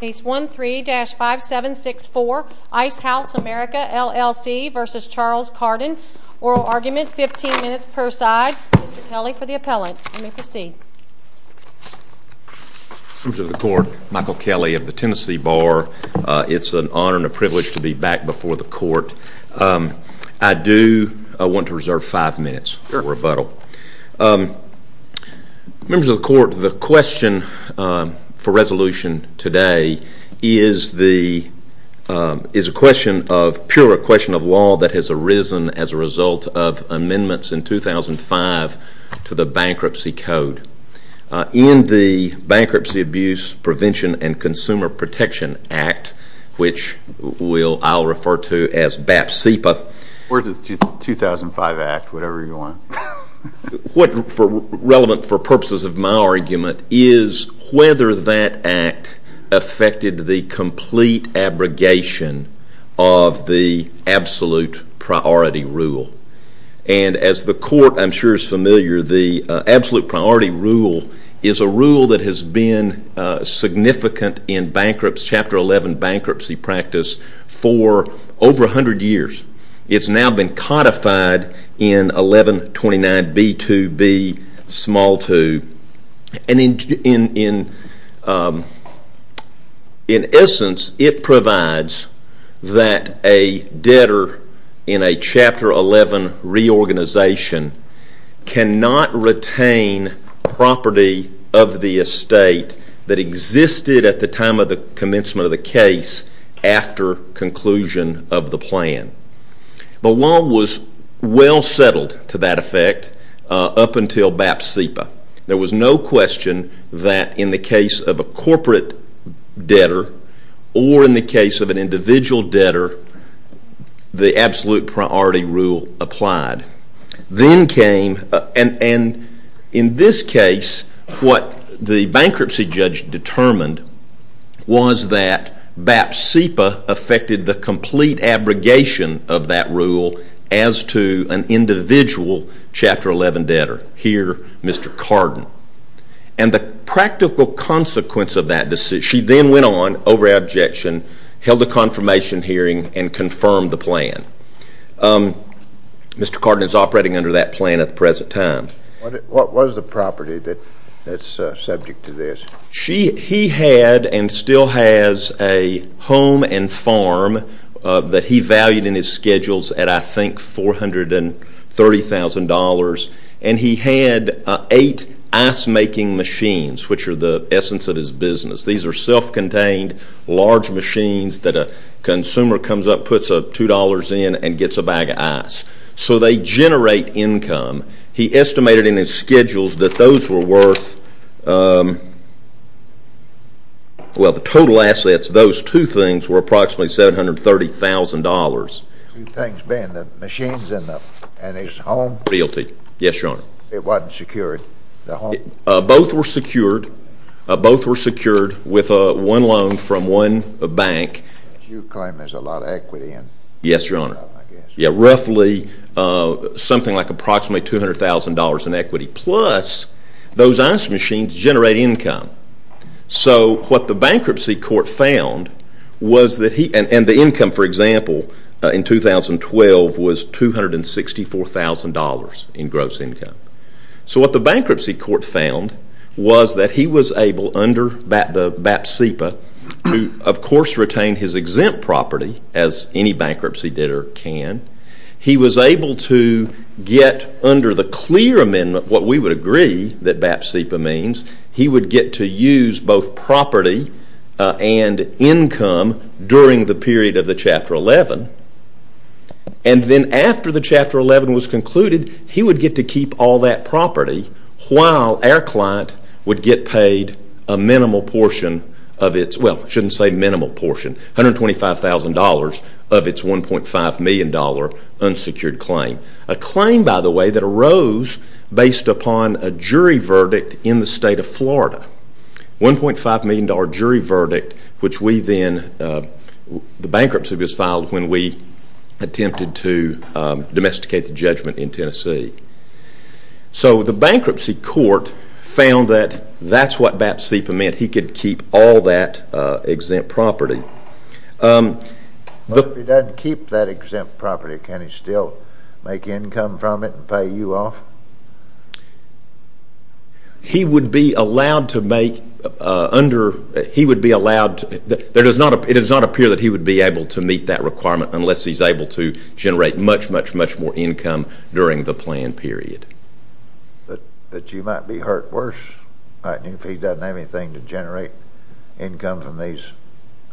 Case 13-5764, Ice House America LLC v. Charles Cardin. Oral argument, 15 minutes per side. Mr. Kelly for the appellate. You may proceed. Members of the Court, Michael Kelly of the Tennessee Bar. It's an honor and a privilege to be back before the Court. I do want to reserve five minutes for rebuttal. Members of the Court, the question for resolution today is a pure question of law that has arisen as a result of amendments in 2005 to the Bankruptcy Code. In the Bankruptcy Abuse Prevention and Consumer Protection Act, which I'll refer to as BAP-CEPA. Or the 2005 Act, whatever you want. What's relevant for purposes of my argument is whether that act affected the complete abrogation of the absolute priority rule. And as the Court, I'm sure, is familiar, the absolute priority rule is a rule that has been significant in bankruptcy. It's Chapter 11 bankruptcy practice for over 100 years. It's now been codified in 1129B2B2. And in essence, it provides that a debtor in a Chapter 11 reorganization cannot retain property of the estate that existed at the time of the commencement of the case after conclusion of the plan. The law was well settled to that effect up until BAP-CEPA. There was no question that in the case of a corporate debtor or in the case of an individual debtor, the absolute priority rule applied. Then came, and in this case, what the bankruptcy judge determined was that BAP-CEPA affected the complete abrogation of that rule as to an individual Chapter 11 debtor. Here, Mr. Cardin. And the practical consequence of that decision, she then went on, over abjection, held a confirmation hearing and confirmed the plan. Mr. Cardin is operating under that plan at the present time. What was the property that's subject to this? He had and still has a home and farm that he valued in his schedules at, I think, $430,000. And he had eight ice-making machines, which are the essence of his business. These are self-contained, large machines that a consumer comes up, puts $2 in, and gets a bag of ice. So they generate income. He estimated in his schedules that those were worth, well, the total assets, those two things were approximately $730,000. Two things being the machines and his home? Guilty. Yes, Your Honor. It wasn't secured, the home? Both were secured. Both were secured with one loan from one bank. Which you claim there's a lot of equity in. Yes, Your Honor. Roughly something like approximately $200,000 in equity. Plus, those ice machines generate income. So what the bankruptcy court found was that he, and the income, for example, in 2012 was $264,000 in gross income. So what the bankruptcy court found was that he was able, under the BAP-CEPA, who, of course, retained his exempt property as any bankruptcy debtor can, he was able to get under the clear amendment, what we would agree that BAP-CEPA means, he would get to use both property and income during the period of the Chapter 11. And then after the Chapter 11 was concluded, he would get to keep all that property while our client would get paid a minimal portion of its, well, I shouldn't say minimal portion, $125,000 of its $1.5 million unsecured claim. A claim, by the way, that arose based upon a jury verdict in the state of Florida. $1.5 million jury verdict, which we then, the bankruptcy was filed when we attempted to domesticate the judgment in Tennessee. So the bankruptcy court found that that's what BAP-CEPA meant. He could keep all that exempt property. But if he doesn't keep that exempt property, can he still make income from it and pay you off? He would be allowed to make, under, he would be allowed, it does not appear that he would be able to meet that requirement unless he's able to generate much, much, much more income during the planned period. But you might be hurt worse if he doesn't have anything to generate income from these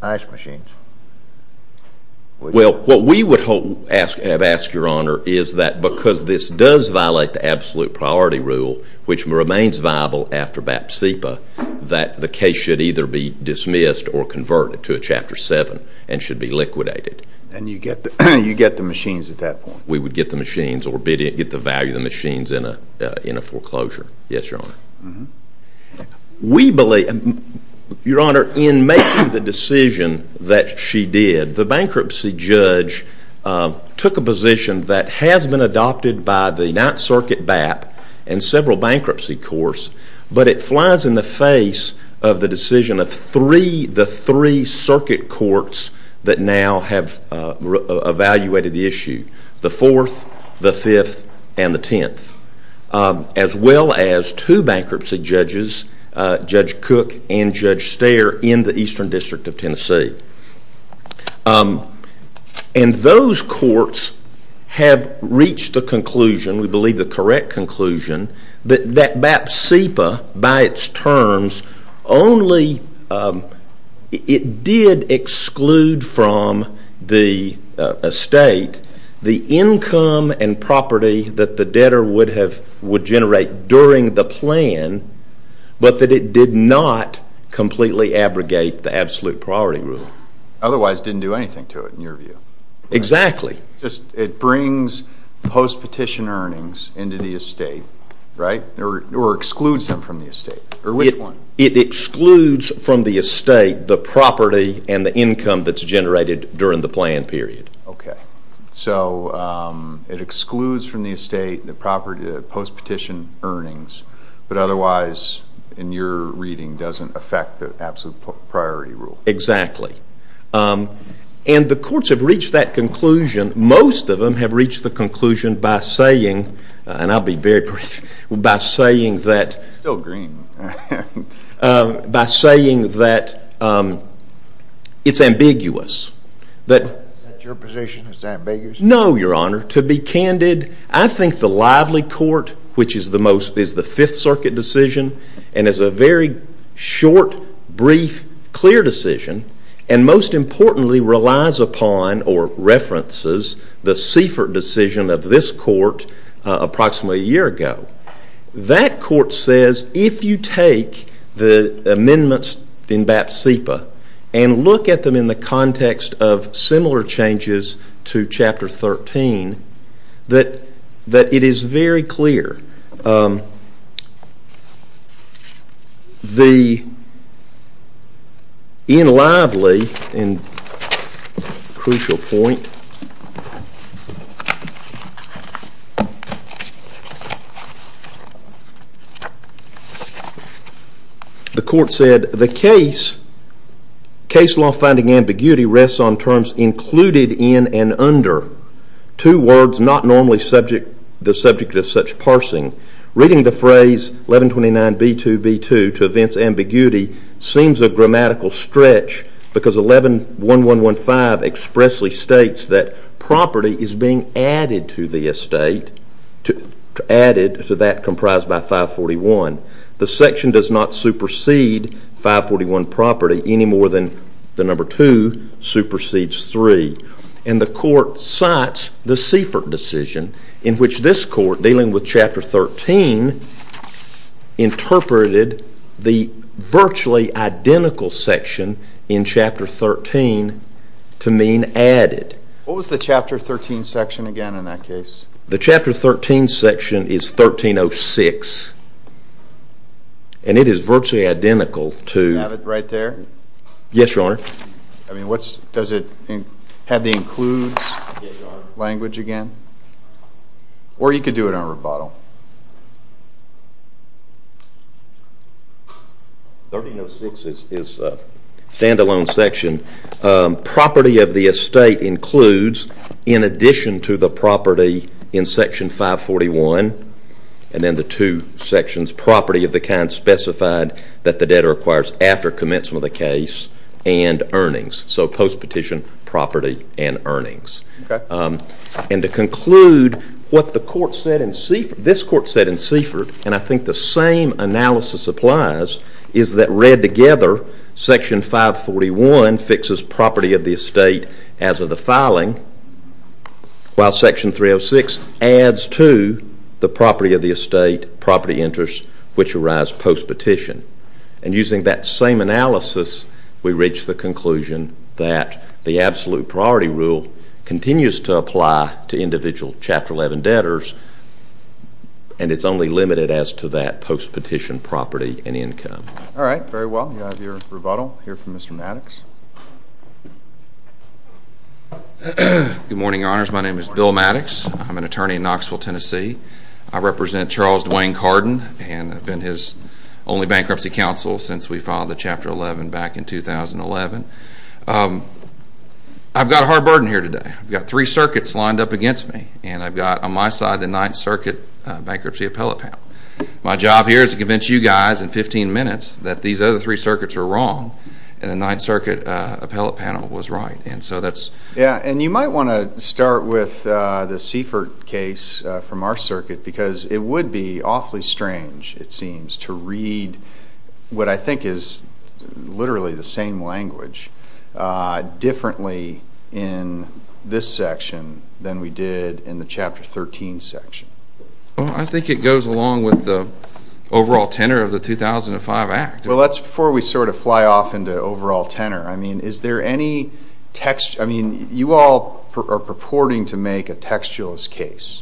ice machines. Well, what we would have asked, Your Honor, is that because this does violate the absolute priority rule, which remains viable after BAP-CEPA, that the case should either be dismissed or converted to a Chapter 7 and should be liquidated. And you get the machines at that point? We would get the machines or get the value of the machines in a foreclosure. Yes, Your Honor. We believe, Your Honor, in making the decision that she did, the bankruptcy judge took a position that has been adopted by the Ninth Circuit BAP and several bankruptcy courts, but it flies in the face of the decision of the three circuit courts that now have evaluated the issue, the Fourth, the Fifth, and the Tenth, as well as two bankruptcy judges, Judge Cook and Judge Steyer in the Eastern District of Tennessee. And those courts have reached the conclusion, we believe the correct conclusion, that BAP-CEPA by its terms only, it did exclude from the estate the income and property that the debtor would generate during the plan, but that it did not completely abrogate the absolute priority rule. Otherwise, it didn't do anything to it, in your view. Exactly. It brings post-petition earnings into the estate, right, or excludes them from the estate. It excludes from the estate the property and the income that's generated during the plan period. Okay. So, it excludes from the estate the property, the post-petition earnings, but otherwise, in your reading, doesn't affect the absolute priority rule. Exactly. And the courts have reached that conclusion, most of them have reached the conclusion by saying, and I'll be very brief, by saying that... It's still green. By saying that it's ambiguous. Is that your position, is that ambiguous? No, Your Honor. To be candid, I think the lively court, which is the most, is the Fifth Circuit decision, and is a very short, brief, clear decision, and most importantly relies upon, or references, the Seifert decision of this court approximately a year ago. That court says, if you take the amendments in BAP-CEPA and look at them in the context of similar changes to Chapter 13, that it is very clear. The, in lively, and crucial point, the court said, the case, case law finding ambiguity rests on terms included in and under two words not normally subject, the subject of such parsing. Reading the phrase 1129B2B2 to events ambiguity seems a grammatical stretch because 11115 expressly states that property is being added to the estate, added to that comprised by 541. The section does not supersede 541 property any more than the number 2 supersedes 3. And the court cites the Seifert decision, in which this court, dealing with Chapter 13, interpreted the virtually identical section in Chapter 13 to mean added. What was the Chapter 13 section again in that case? The Chapter 13 section is 1306, and it is virtually identical to... Do you have it right there? Yes, Your Honor. Does it have the includes language again? Or you could do it on rebuttal. 1306 is a stand-alone section. Property of the estate includes, in addition to the property in Section 541, and then the two sections, property of the kind specified that the debtor acquires after commencement of the case, and earnings. So post-petition, property, and earnings. And to conclude, what this court said in Seifert, and I think the same analysis applies, is that read together, Section 541 fixes property of the estate as of the filing, while Section 306 adds to the property of the estate, property interest, which arrives post-petition. And using that same analysis, we reach the conclusion that the absolute priority rule continues to apply to individual Chapter 11 debtors, and it's only limited as to that post-petition property and income. All right. Very well. You have your rebuttal here from Mr. Maddox. Good morning, Your Honors. My name is Bill Maddox. I'm an attorney in Knoxville, Tennessee. I represent Charles Dwayne Cardin, and I've been his only bankruptcy counsel since we filed the Chapter 11 back in 2011. I've got a hard burden here today. I've got three circuits lined up against me, and I've got on my side the Ninth Circuit Bankruptcy Appellate Panel. My job here is to convince you guys in 15 minutes that these other three circuits are wrong, and the Ninth Circuit Appellate Panel was right. Yeah, and you might want to start with the Seifert case from our circuit because it would be awfully strange, it seems, to read what I think is literally the same language differently in this section than we did in the Chapter 13 section. Well, I think it goes along with the overall tenor of the 2005 Act. Well, that's before we sort of fly off into overall tenor. I mean, you all are purporting to make a textualist case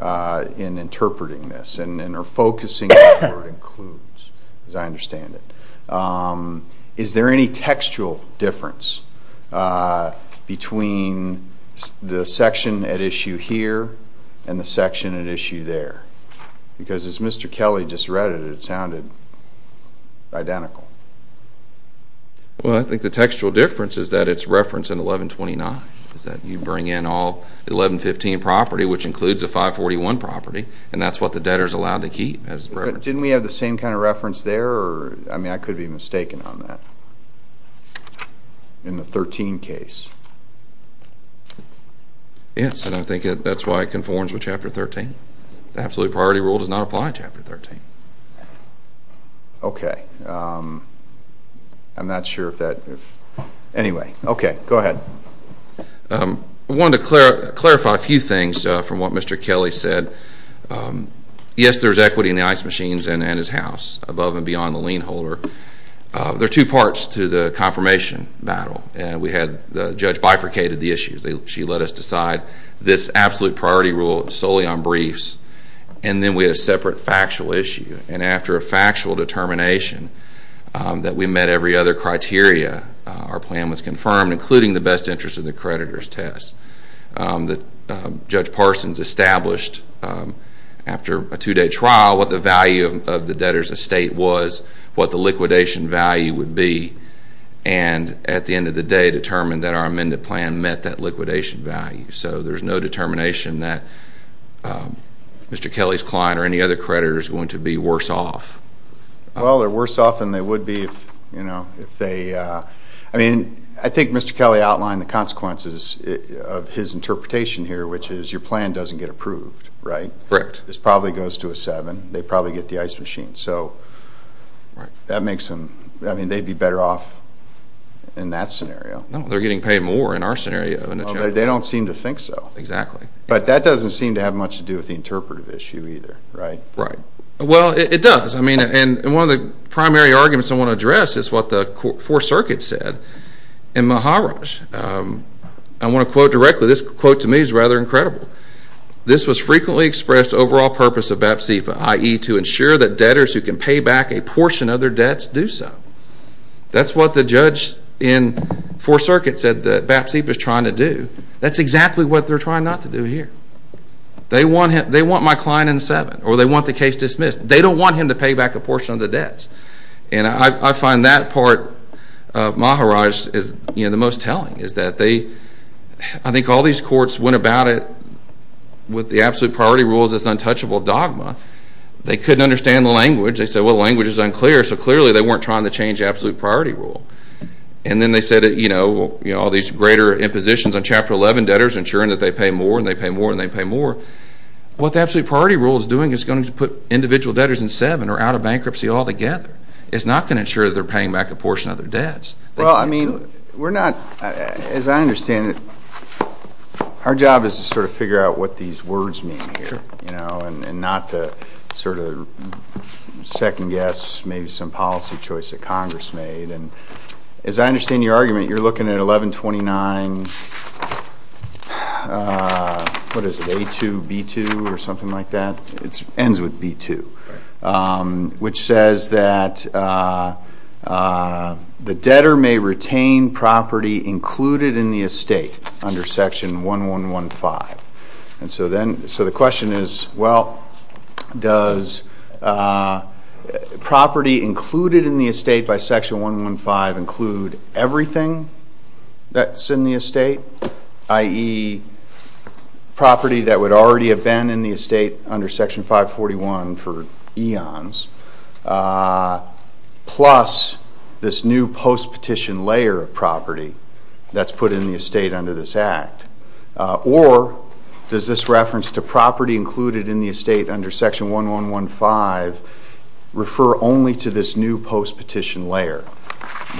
in interpreting this and are focusing on what it includes, as I understand it. Is there any textual difference between the section at issue here and the section at issue there? Because as Mr. Kelly just read it, it sounded identical. Well, I think the textual difference is that it's referenced in 1129. You bring in all 1115 property, which includes a 541 property, and that's what the debtor is allowed to keep. Didn't we have the same kind of reference there? I mean, I could be mistaken on that. In the 13 case. Yes, and I think that's why it conforms with Chapter 13. The absolute priority rule does not apply in Chapter 13. Okay. I'm not sure if that, anyway. Okay, go ahead. I wanted to clarify a few things from what Mr. Kelly said. Yes, there is equity in the ice machines and in his house, above and beyond the lien holder. There are two parts to the confirmation battle, and we had the judge bifurcated the issues. She let us decide this absolute priority rule solely on briefs, and then we had a separate factual issue. And after a factual determination that we met every other criteria, our plan was confirmed, including the best interest of the creditor's test. Judge Parsons established, after a two-day trial, what the value of the debtor's estate was, what the liquidation value would be, and at the end of the day determined that our amended plan met that liquidation value. So there's no determination that Mr. Kelly's client or any other creditor is going to be worse off. Well, they're worse off than they would be if they – I mean, I think Mr. Kelly outlined the consequences of his interpretation here, which is your plan doesn't get approved, right? Correct. This probably goes to a seven. They probably get the ice machine. So that makes them – I mean, they'd be better off in that scenario. No, they're getting paid more in our scenario. They don't seem to think so. Exactly. But that doesn't seem to have much to do with the interpretive issue either, right? Right. Well, it does. I mean, and one of the primary arguments I want to address is what the Fourth Circuit said in Maharaj. I want to quote directly. This quote to me is rather incredible. This was frequently expressed overall purpose of BAPSIPA, i.e., to ensure that debtors who can pay back a portion of their debts do so. That's what the judge in Fourth Circuit said that BAPSIPA is trying to do. That's exactly what they're trying not to do here. They want my client in seven, or they want the case dismissed. They don't want him to pay back a portion of the debts. And I find that part of Maharaj is the most telling, is that they – I think all these courts went about it with the absolute priority rules, this untouchable dogma. They couldn't understand the language. They said, well, the language is unclear. So clearly they weren't trying to change the absolute priority rule. And then they said, you know, all these greater impositions on Chapter 11, debtors ensuring that they pay more and they pay more and they pay more. What the absolute priority rule is doing is going to put individual debtors in seven or out of bankruptcy altogether. It's not going to ensure that they're paying back a portion of their debts. Well, I mean, we're not – as I understand it, our job is to sort of figure out what these words mean here, you know, and not to sort of second guess maybe some policy choice that Congress made. And as I understand your argument, you're looking at 1129 – what is it, A2, B2 or something like that? It ends with B2, which says that the debtor may retain property included in the estate under Section 1115. And so then – so the question is, well, does property included in the estate by Section 115 include everything that's in the estate, i.e., property that would already have been in the estate under Section 541 for eons, plus this new post-petition layer of property that's put in the estate under this Act, or does this reference to property included in the estate under Section 1115 refer only to this new post-petition layer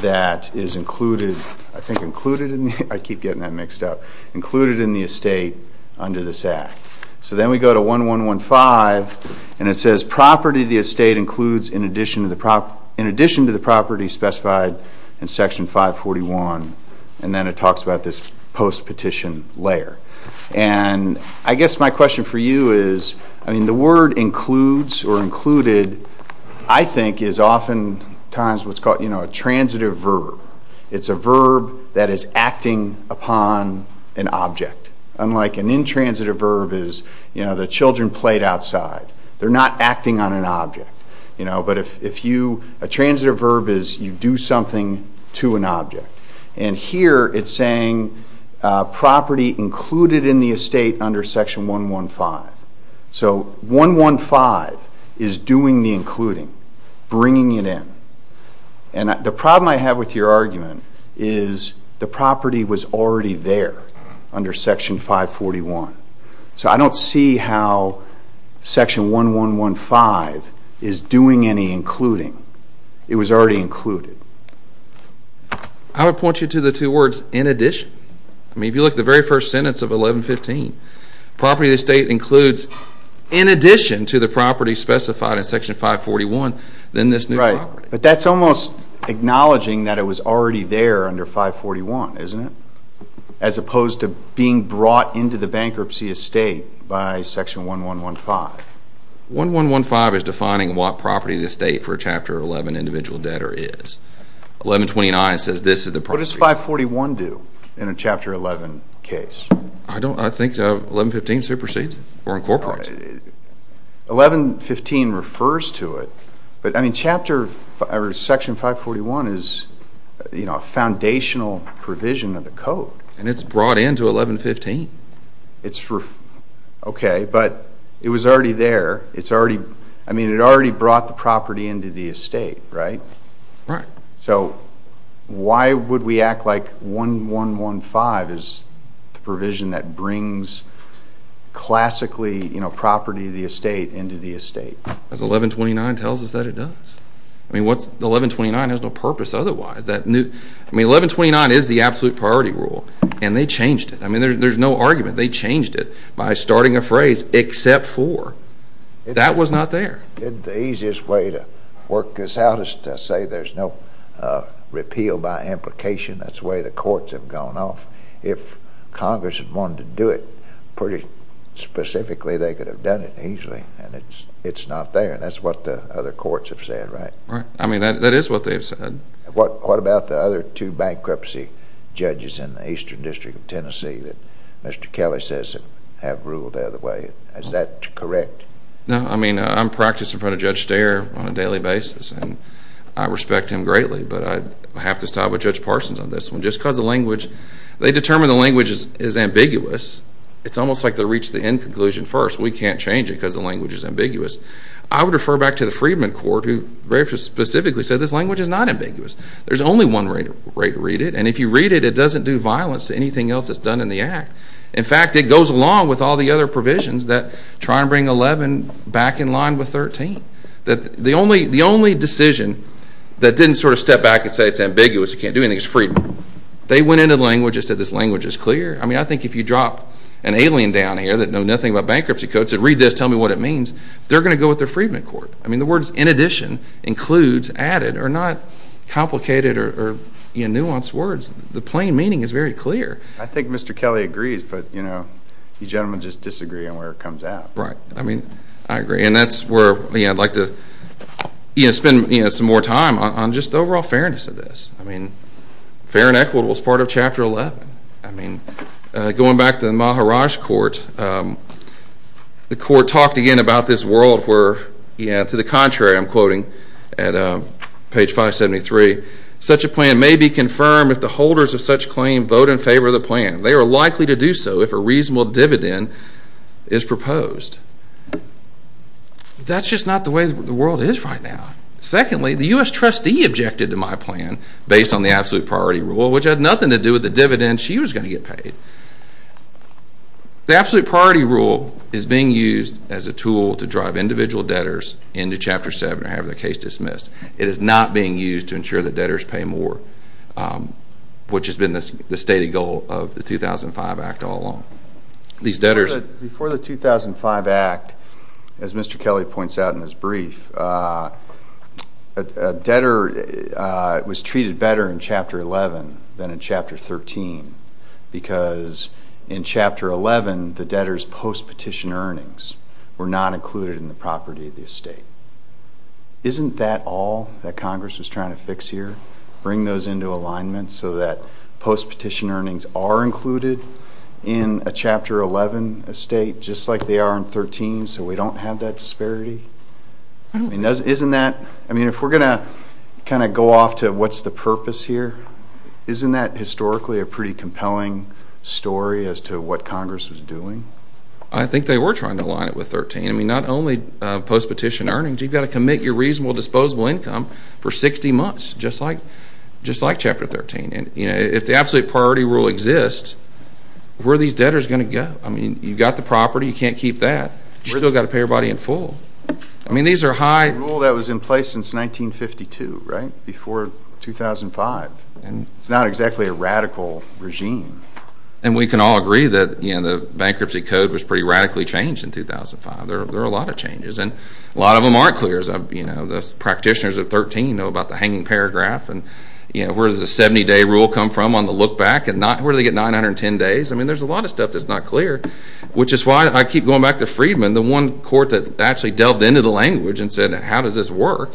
that is included – I think included in the – I keep getting that mixed up – included in the estate under this Act. So then we go to 1115, and it says property of the estate includes in addition to the property specified in Section 541. And then it talks about this post-petition layer. And I guess my question for you is, I mean, the word includes or included, I think, is oftentimes what's called a transitive verb. It's a verb that is acting upon an object, unlike an intransitive verb is the children played outside. They're not acting on an object. But if you – a transitive verb is you do something to an object. And here it's saying property included in the estate under Section 115. So 115 is doing the including, bringing it in. And the problem I have with your argument is the property was already there under Section 541. So I don't see how Section 1115 is doing any including. It was already included. I would point you to the two words in addition. I mean, if you look at the very first sentence of 1115, property of the estate includes in addition to the property specified in Section 541, then this new property. Right, but that's almost acknowledging that it was already there under 541, isn't it? As opposed to being brought into the bankruptcy estate by Section 1115. 1115 is defining what property of the estate for a Chapter 11 individual debtor is. 1129 says this is the property. What does 541 do in a Chapter 11 case? I think 1115 supersedes it or incorporates it. 1115 refers to it, but I mean, Section 541 is a foundational provision of the code. And it's brought into 1115. OK, but it was already there. I mean, it already brought the property into the estate, right? Right. So why would we act like 1115 is the provision that brings classically property of the estate into the estate? Because 1129 tells us that it does. I mean, 1129 has no purpose otherwise. I mean, 1129 is the absolute priority rule, and they changed it. I mean, there's no argument. They changed it by starting a phrase, except for. That was not there. The easiest way to work this out is to say there's no repeal by implication. That's the way the courts have gone off. If Congress had wanted to do it pretty specifically, they could have done it easily, and it's not there. And that's what the other courts have said, right? Right. I mean, that is what they've said. What about the other two bankruptcy judges in the Eastern District of Tennessee that Mr. Kelly says have ruled the other way? Is that correct? No. I mean, I'm practicing in front of Judge Steyer on a daily basis, and I respect him greatly, but I have to side with Judge Parsons on this one. Just because the language, they determined the language is ambiguous, it's almost like they reached the end conclusion first. We can't change it because the language is ambiguous. I would refer back to the Freedman Court, who very specifically said this language is not ambiguous. There's only one way to read it, and if you read it, it doesn't do violence to anything else that's done in the act. In fact, it goes along with all the other provisions that try and bring 11 back in line with 13. The only decision that didn't sort of step back and say it's ambiguous, you can't do anything, is Freedman. They went into the language and said this language is clear. I mean, I think if you drop an alien down here that knows nothing about bankruptcy codes, said read this, tell me what it means, they're going to go with the Freedman Court. I mean, the words in addition, includes, added, are not complicated or nuanced words. The plain meaning is very clear. I think Mr. Kelly agrees, but, you know, you gentlemen just disagree on where it comes out. Right. I mean, I agree, and that's where I'd like to spend some more time on just overall fairness of this. I mean, fair and equitable is part of Chapter 11. I mean, going back to the Maharaj court, the court talked again about this world where, to the contrary, I'm quoting at page 573, such a plan may be confirmed if the holders of such claim vote in favor of the plan. They are likely to do so if a reasonable dividend is proposed. That's just not the way the world is right now. Secondly, the U.S. trustee objected to my plan based on the absolute priority rule, which had nothing to do with the dividends she was going to get paid. The absolute priority rule is being used as a tool to drive individual debtors into Chapter 7 or have their case dismissed. It is not being used to ensure that debtors pay more, which has been the stated goal of the 2005 Act all along. Before the 2005 Act, as Mr. Kelly points out in his brief, a debtor was treated better in Chapter 11 than in Chapter 13 because in Chapter 11 the debtors' post-petition earnings were not included in the property of the estate. Isn't that all that Congress was trying to fix here? Bring those into alignment so that post-petition earnings are included in a Chapter 11 estate, just like they are in Chapter 13, so we don't have that disparity? If we're going to go off to what's the purpose here, isn't that historically a pretty compelling story as to what Congress was doing? I think they were trying to align it with Chapter 13. Not only post-petition earnings. You've got to commit your reasonable disposable income for 60 months, just like Chapter 13. If the absolute priority rule exists, where are these debtors going to go? You've got the property. You can't keep that. You've still got to pay your body in full. That was a rule that was in place since 1952, before 2005. It's not exactly a radical regime. And we can all agree that the bankruptcy code was pretty radically changed in 2005. There were a lot of changes, and a lot of them aren't clear. The practitioners of 13 know about the hanging paragraph. Where does the 70-day rule come from on the look-back? Where do they get 910 days? There's a lot of stuff that's not clear, which is why I keep going back to Freedman, the one court that actually delved into the language and said, how does this work,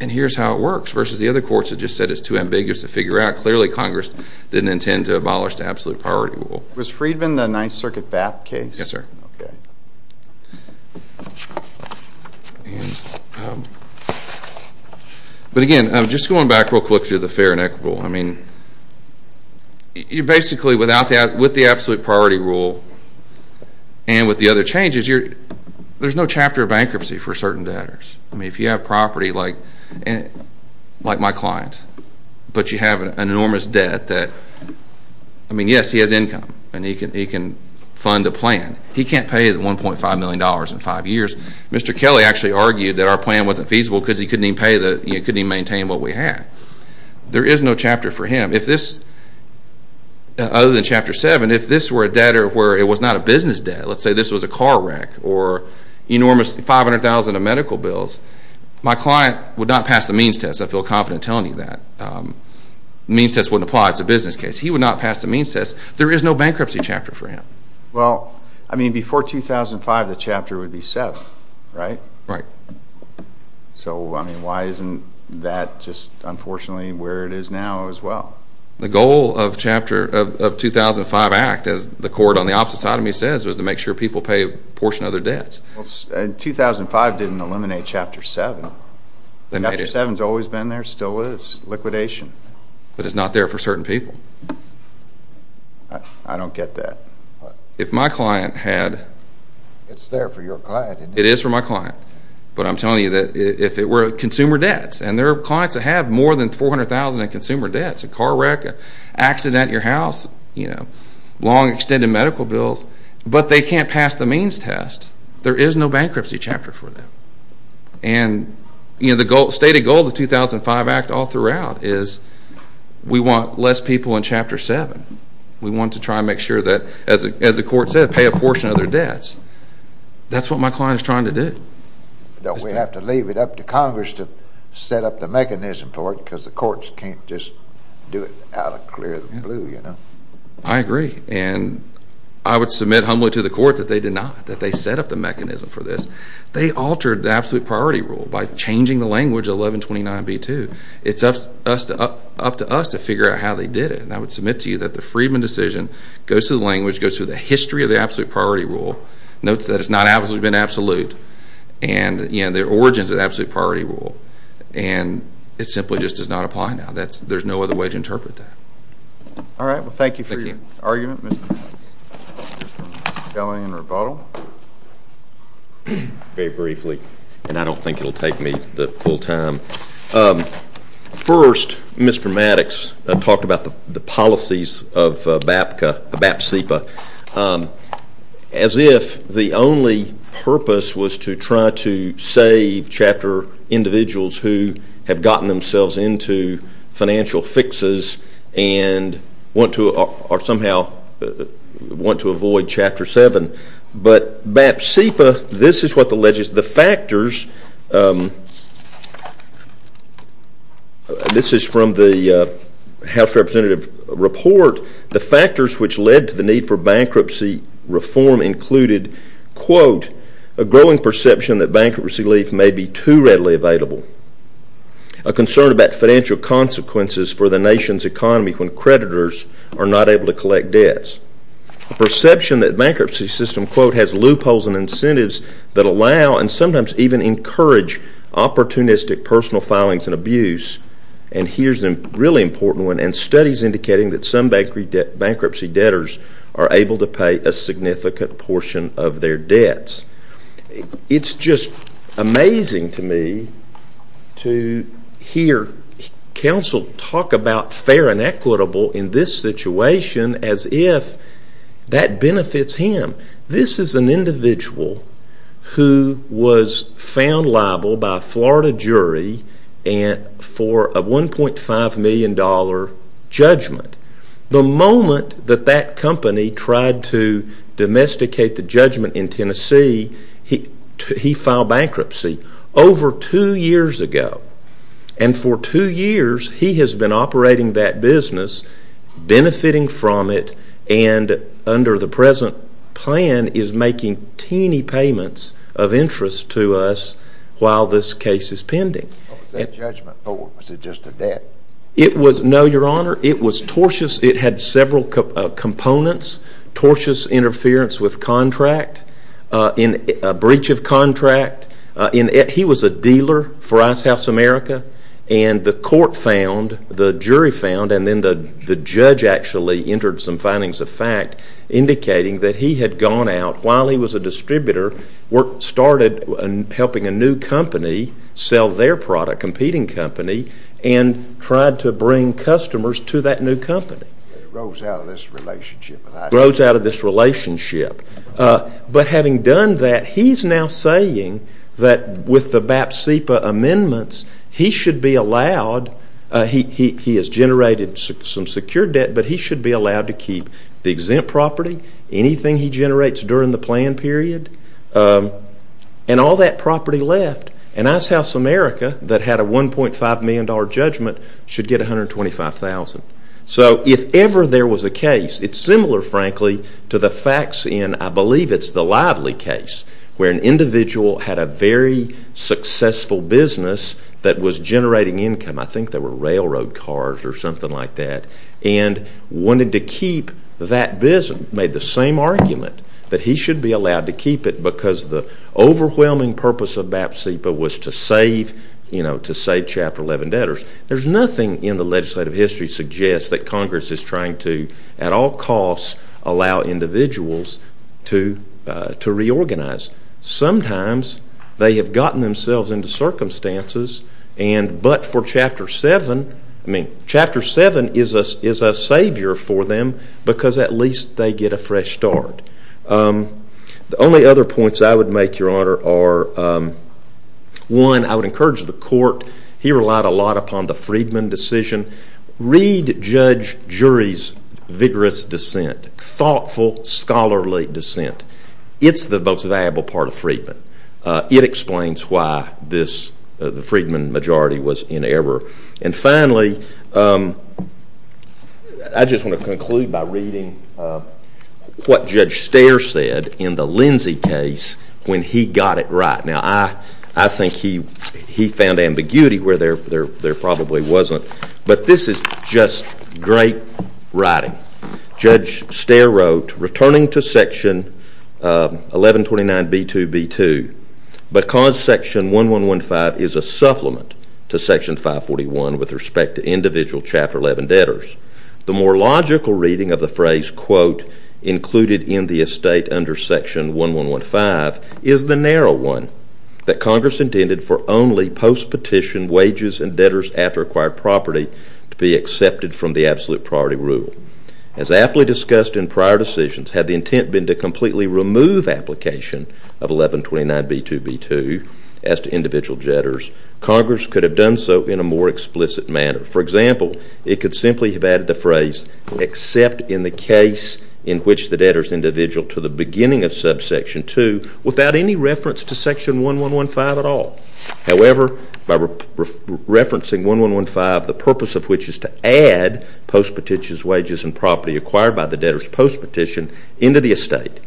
and here's how it works, versus the other courts that just said it's too ambiguous to figure out. Clearly, Congress didn't intend to abolish the absolute priority rule. Was Freedman the Ninth Circuit BAP case? Yes, sir. But again, just going back real quick to the fair and equitable. Basically, with the absolute priority rule and with the other changes, there's no chapter of bankruptcy for certain debtors. I mean, if you have property like my client, but you have an enormous debt that, I mean, yes, he has income, and he can fund a plan. He can't pay the $1.5 million in five years. Mr. Kelly actually argued that our plan wasn't feasible because he couldn't even maintain what we had. There is no chapter for him. Other than Chapter 7, if this were a debtor where it was not a business debt, let's say this was a car wreck or enormous $500,000 in medical bills, my client would not pass the means test. I feel confident in telling you that. The means test wouldn't apply. It's a business case. He would not pass the means test. There is no bankruptcy chapter for him. Well, I mean, before 2005, the chapter would be SEF, right? Right. So, I mean, why isn't that just unfortunately where it is now as well? The goal of 2005 Act, as the court on the opposite side of me says, was to make sure people pay a portion of their debts. 2005 didn't eliminate Chapter 7. Chapter 7 has always been there, still is, liquidation. But it's not there for certain people. I don't get that. If my client had... It's there for your client. It is for my client. But I'm telling you that if it were consumer debts, and there are clients that have more than 400,000 in consumer debts, a car wreck, an accident at your house, long extended medical bills, but they can't pass the means test, there is no bankruptcy chapter for them. And the stated goal of the 2005 Act all throughout is we want less people in Chapter 7. We want to try and make sure that, as the court said, pay a portion of their debts. That's what my client is trying to do. Don't we have to leave it up to Congress to set up the mechanism for it because the courts can't just do it out of the clear blue, you know. I agree. And I would submit humbly to the court that they did not, that they set up the mechanism for this. They altered the absolute priority rule by changing the language of 1129B2. It's up to us to figure out how they did it. And I would submit to you that the Friedman decision goes through the language, goes through the history of the absolute priority rule, notes that it's not absolutely been absolute, and, you know, their origin is the absolute priority rule. And it simply just does not apply now. There's no other way to interpret that. All right. Well, thank you for your argument, Mr. Maddox. Mr. Gellin, rebuttal. Very briefly, and I don't think it will take me the full time. First, Mr. Maddox talked about the policies of BAPSEPA. As if the only purpose was to try to save Chapter individuals who have gotten themselves into financial fixes and want to or somehow want to avoid Chapter 7. But BAPSEPA, this is what the factors, this is from the House representative report, the factors which led to the need for bankruptcy reform included, quote, a growing perception that bankruptcy leave may be too readily available, a concern about financial consequences for the nation's economy when creditors are not able to collect debts, a perception that bankruptcy system, quote, has loopholes and incentives that allow and sometimes even encourage opportunistic personal filings and abuse, and here's a really important one, and studies indicating that some bankruptcy debtors are able to pay a significant portion of their debts. It's just amazing to me to hear counsel talk about fair and equitable in this situation as if that benefits him. This is an individual who was found liable by a Florida jury for a $1.5 million judgment. The moment that that company tried to domesticate the judgment in Tennessee, he filed bankruptcy over two years ago, and for two years he has been operating that business, benefiting from it, and under the present plan is making teeny payments of interest to us while this case is pending. What was that judgment for? Was it just a debt? No, Your Honor. It was tortuous. It had several components, tortuous interference with contract, a breach of contract. He was a dealer for Ice House America, and then the judge actually entered some findings of fact indicating that he had gone out while he was a distributor, started helping a new company sell their product, competing company, and tried to bring customers to that new company. He rose out of this relationship. He rose out of this relationship. But having done that, he's now saying that with the BAP-CEPA amendments, he should be allowed. He has generated some secure debt, but he should be allowed to keep the exempt property, anything he generates during the plan period, and all that property left. And Ice House America, that had a $1.5 million judgment, should get $125,000. So if ever there was a case, it's similar, frankly, to the facts in, I believe it's the Lively case, where an individual had a very successful business that was generating income. I think they were railroad cars or something like that. And wanted to keep that business. Made the same argument that he should be allowed to keep it because the overwhelming purpose of BAP-CEPA was to save Chapter 11 debtors. There's nothing in the legislative history suggests that Congress is trying to, at all costs, allow individuals to reorganize. Sometimes they have gotten themselves into circumstances, but for Chapter 7, I mean, Chapter 7 is a savior for them because at least they get a fresh start. The only other points I would make, Your Honor, are, one, I would encourage the court. He relied a lot upon the Friedman decision. Read Judge Jury's vigorous dissent. Thoughtful, scholarly dissent. It's the most valuable part of Friedman. It explains why the Friedman majority was in error. And finally, I just want to conclude by reading what Judge Stare said in the Lindsey case when he got it right. Now, I think he found ambiguity where there probably wasn't, but this is just great writing. Judge Stare wrote, returning to Section 1129B2B2, because Section 1115 is a supplement to Section 541 with respect to individual Chapter 11 debtors, the more logical reading of the phrase, quote, included in the estate under Section 1115 is the narrow one that Congress intended for only post-petition wages and debtors after acquired property to be accepted from the absolute priority rule. As aptly discussed in prior decisions, had the intent been to completely remove application of 1129B2B2 as to individual debtors, Congress could have done so in a more explicit manner. For example, it could simply have added the phrase, except in the case in which the debtor is individual to the beginning of subsection 2 without any reference to Section 1115 at all. However, by referencing 1115, the purpose of which is to add post-petition wages and property acquired by the debtors post-petition into the estate,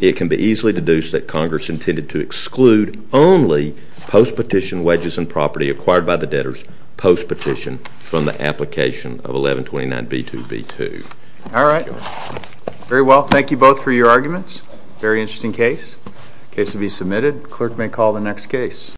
it can be easily deduced that Congress intended to exclude only post-petition wages and property acquired by the debtors post-petition from the application of 1129B2B2. All right. Very well. Thank you both for your arguments. Very interesting case. Case to be submitted. Clerk may call the next case.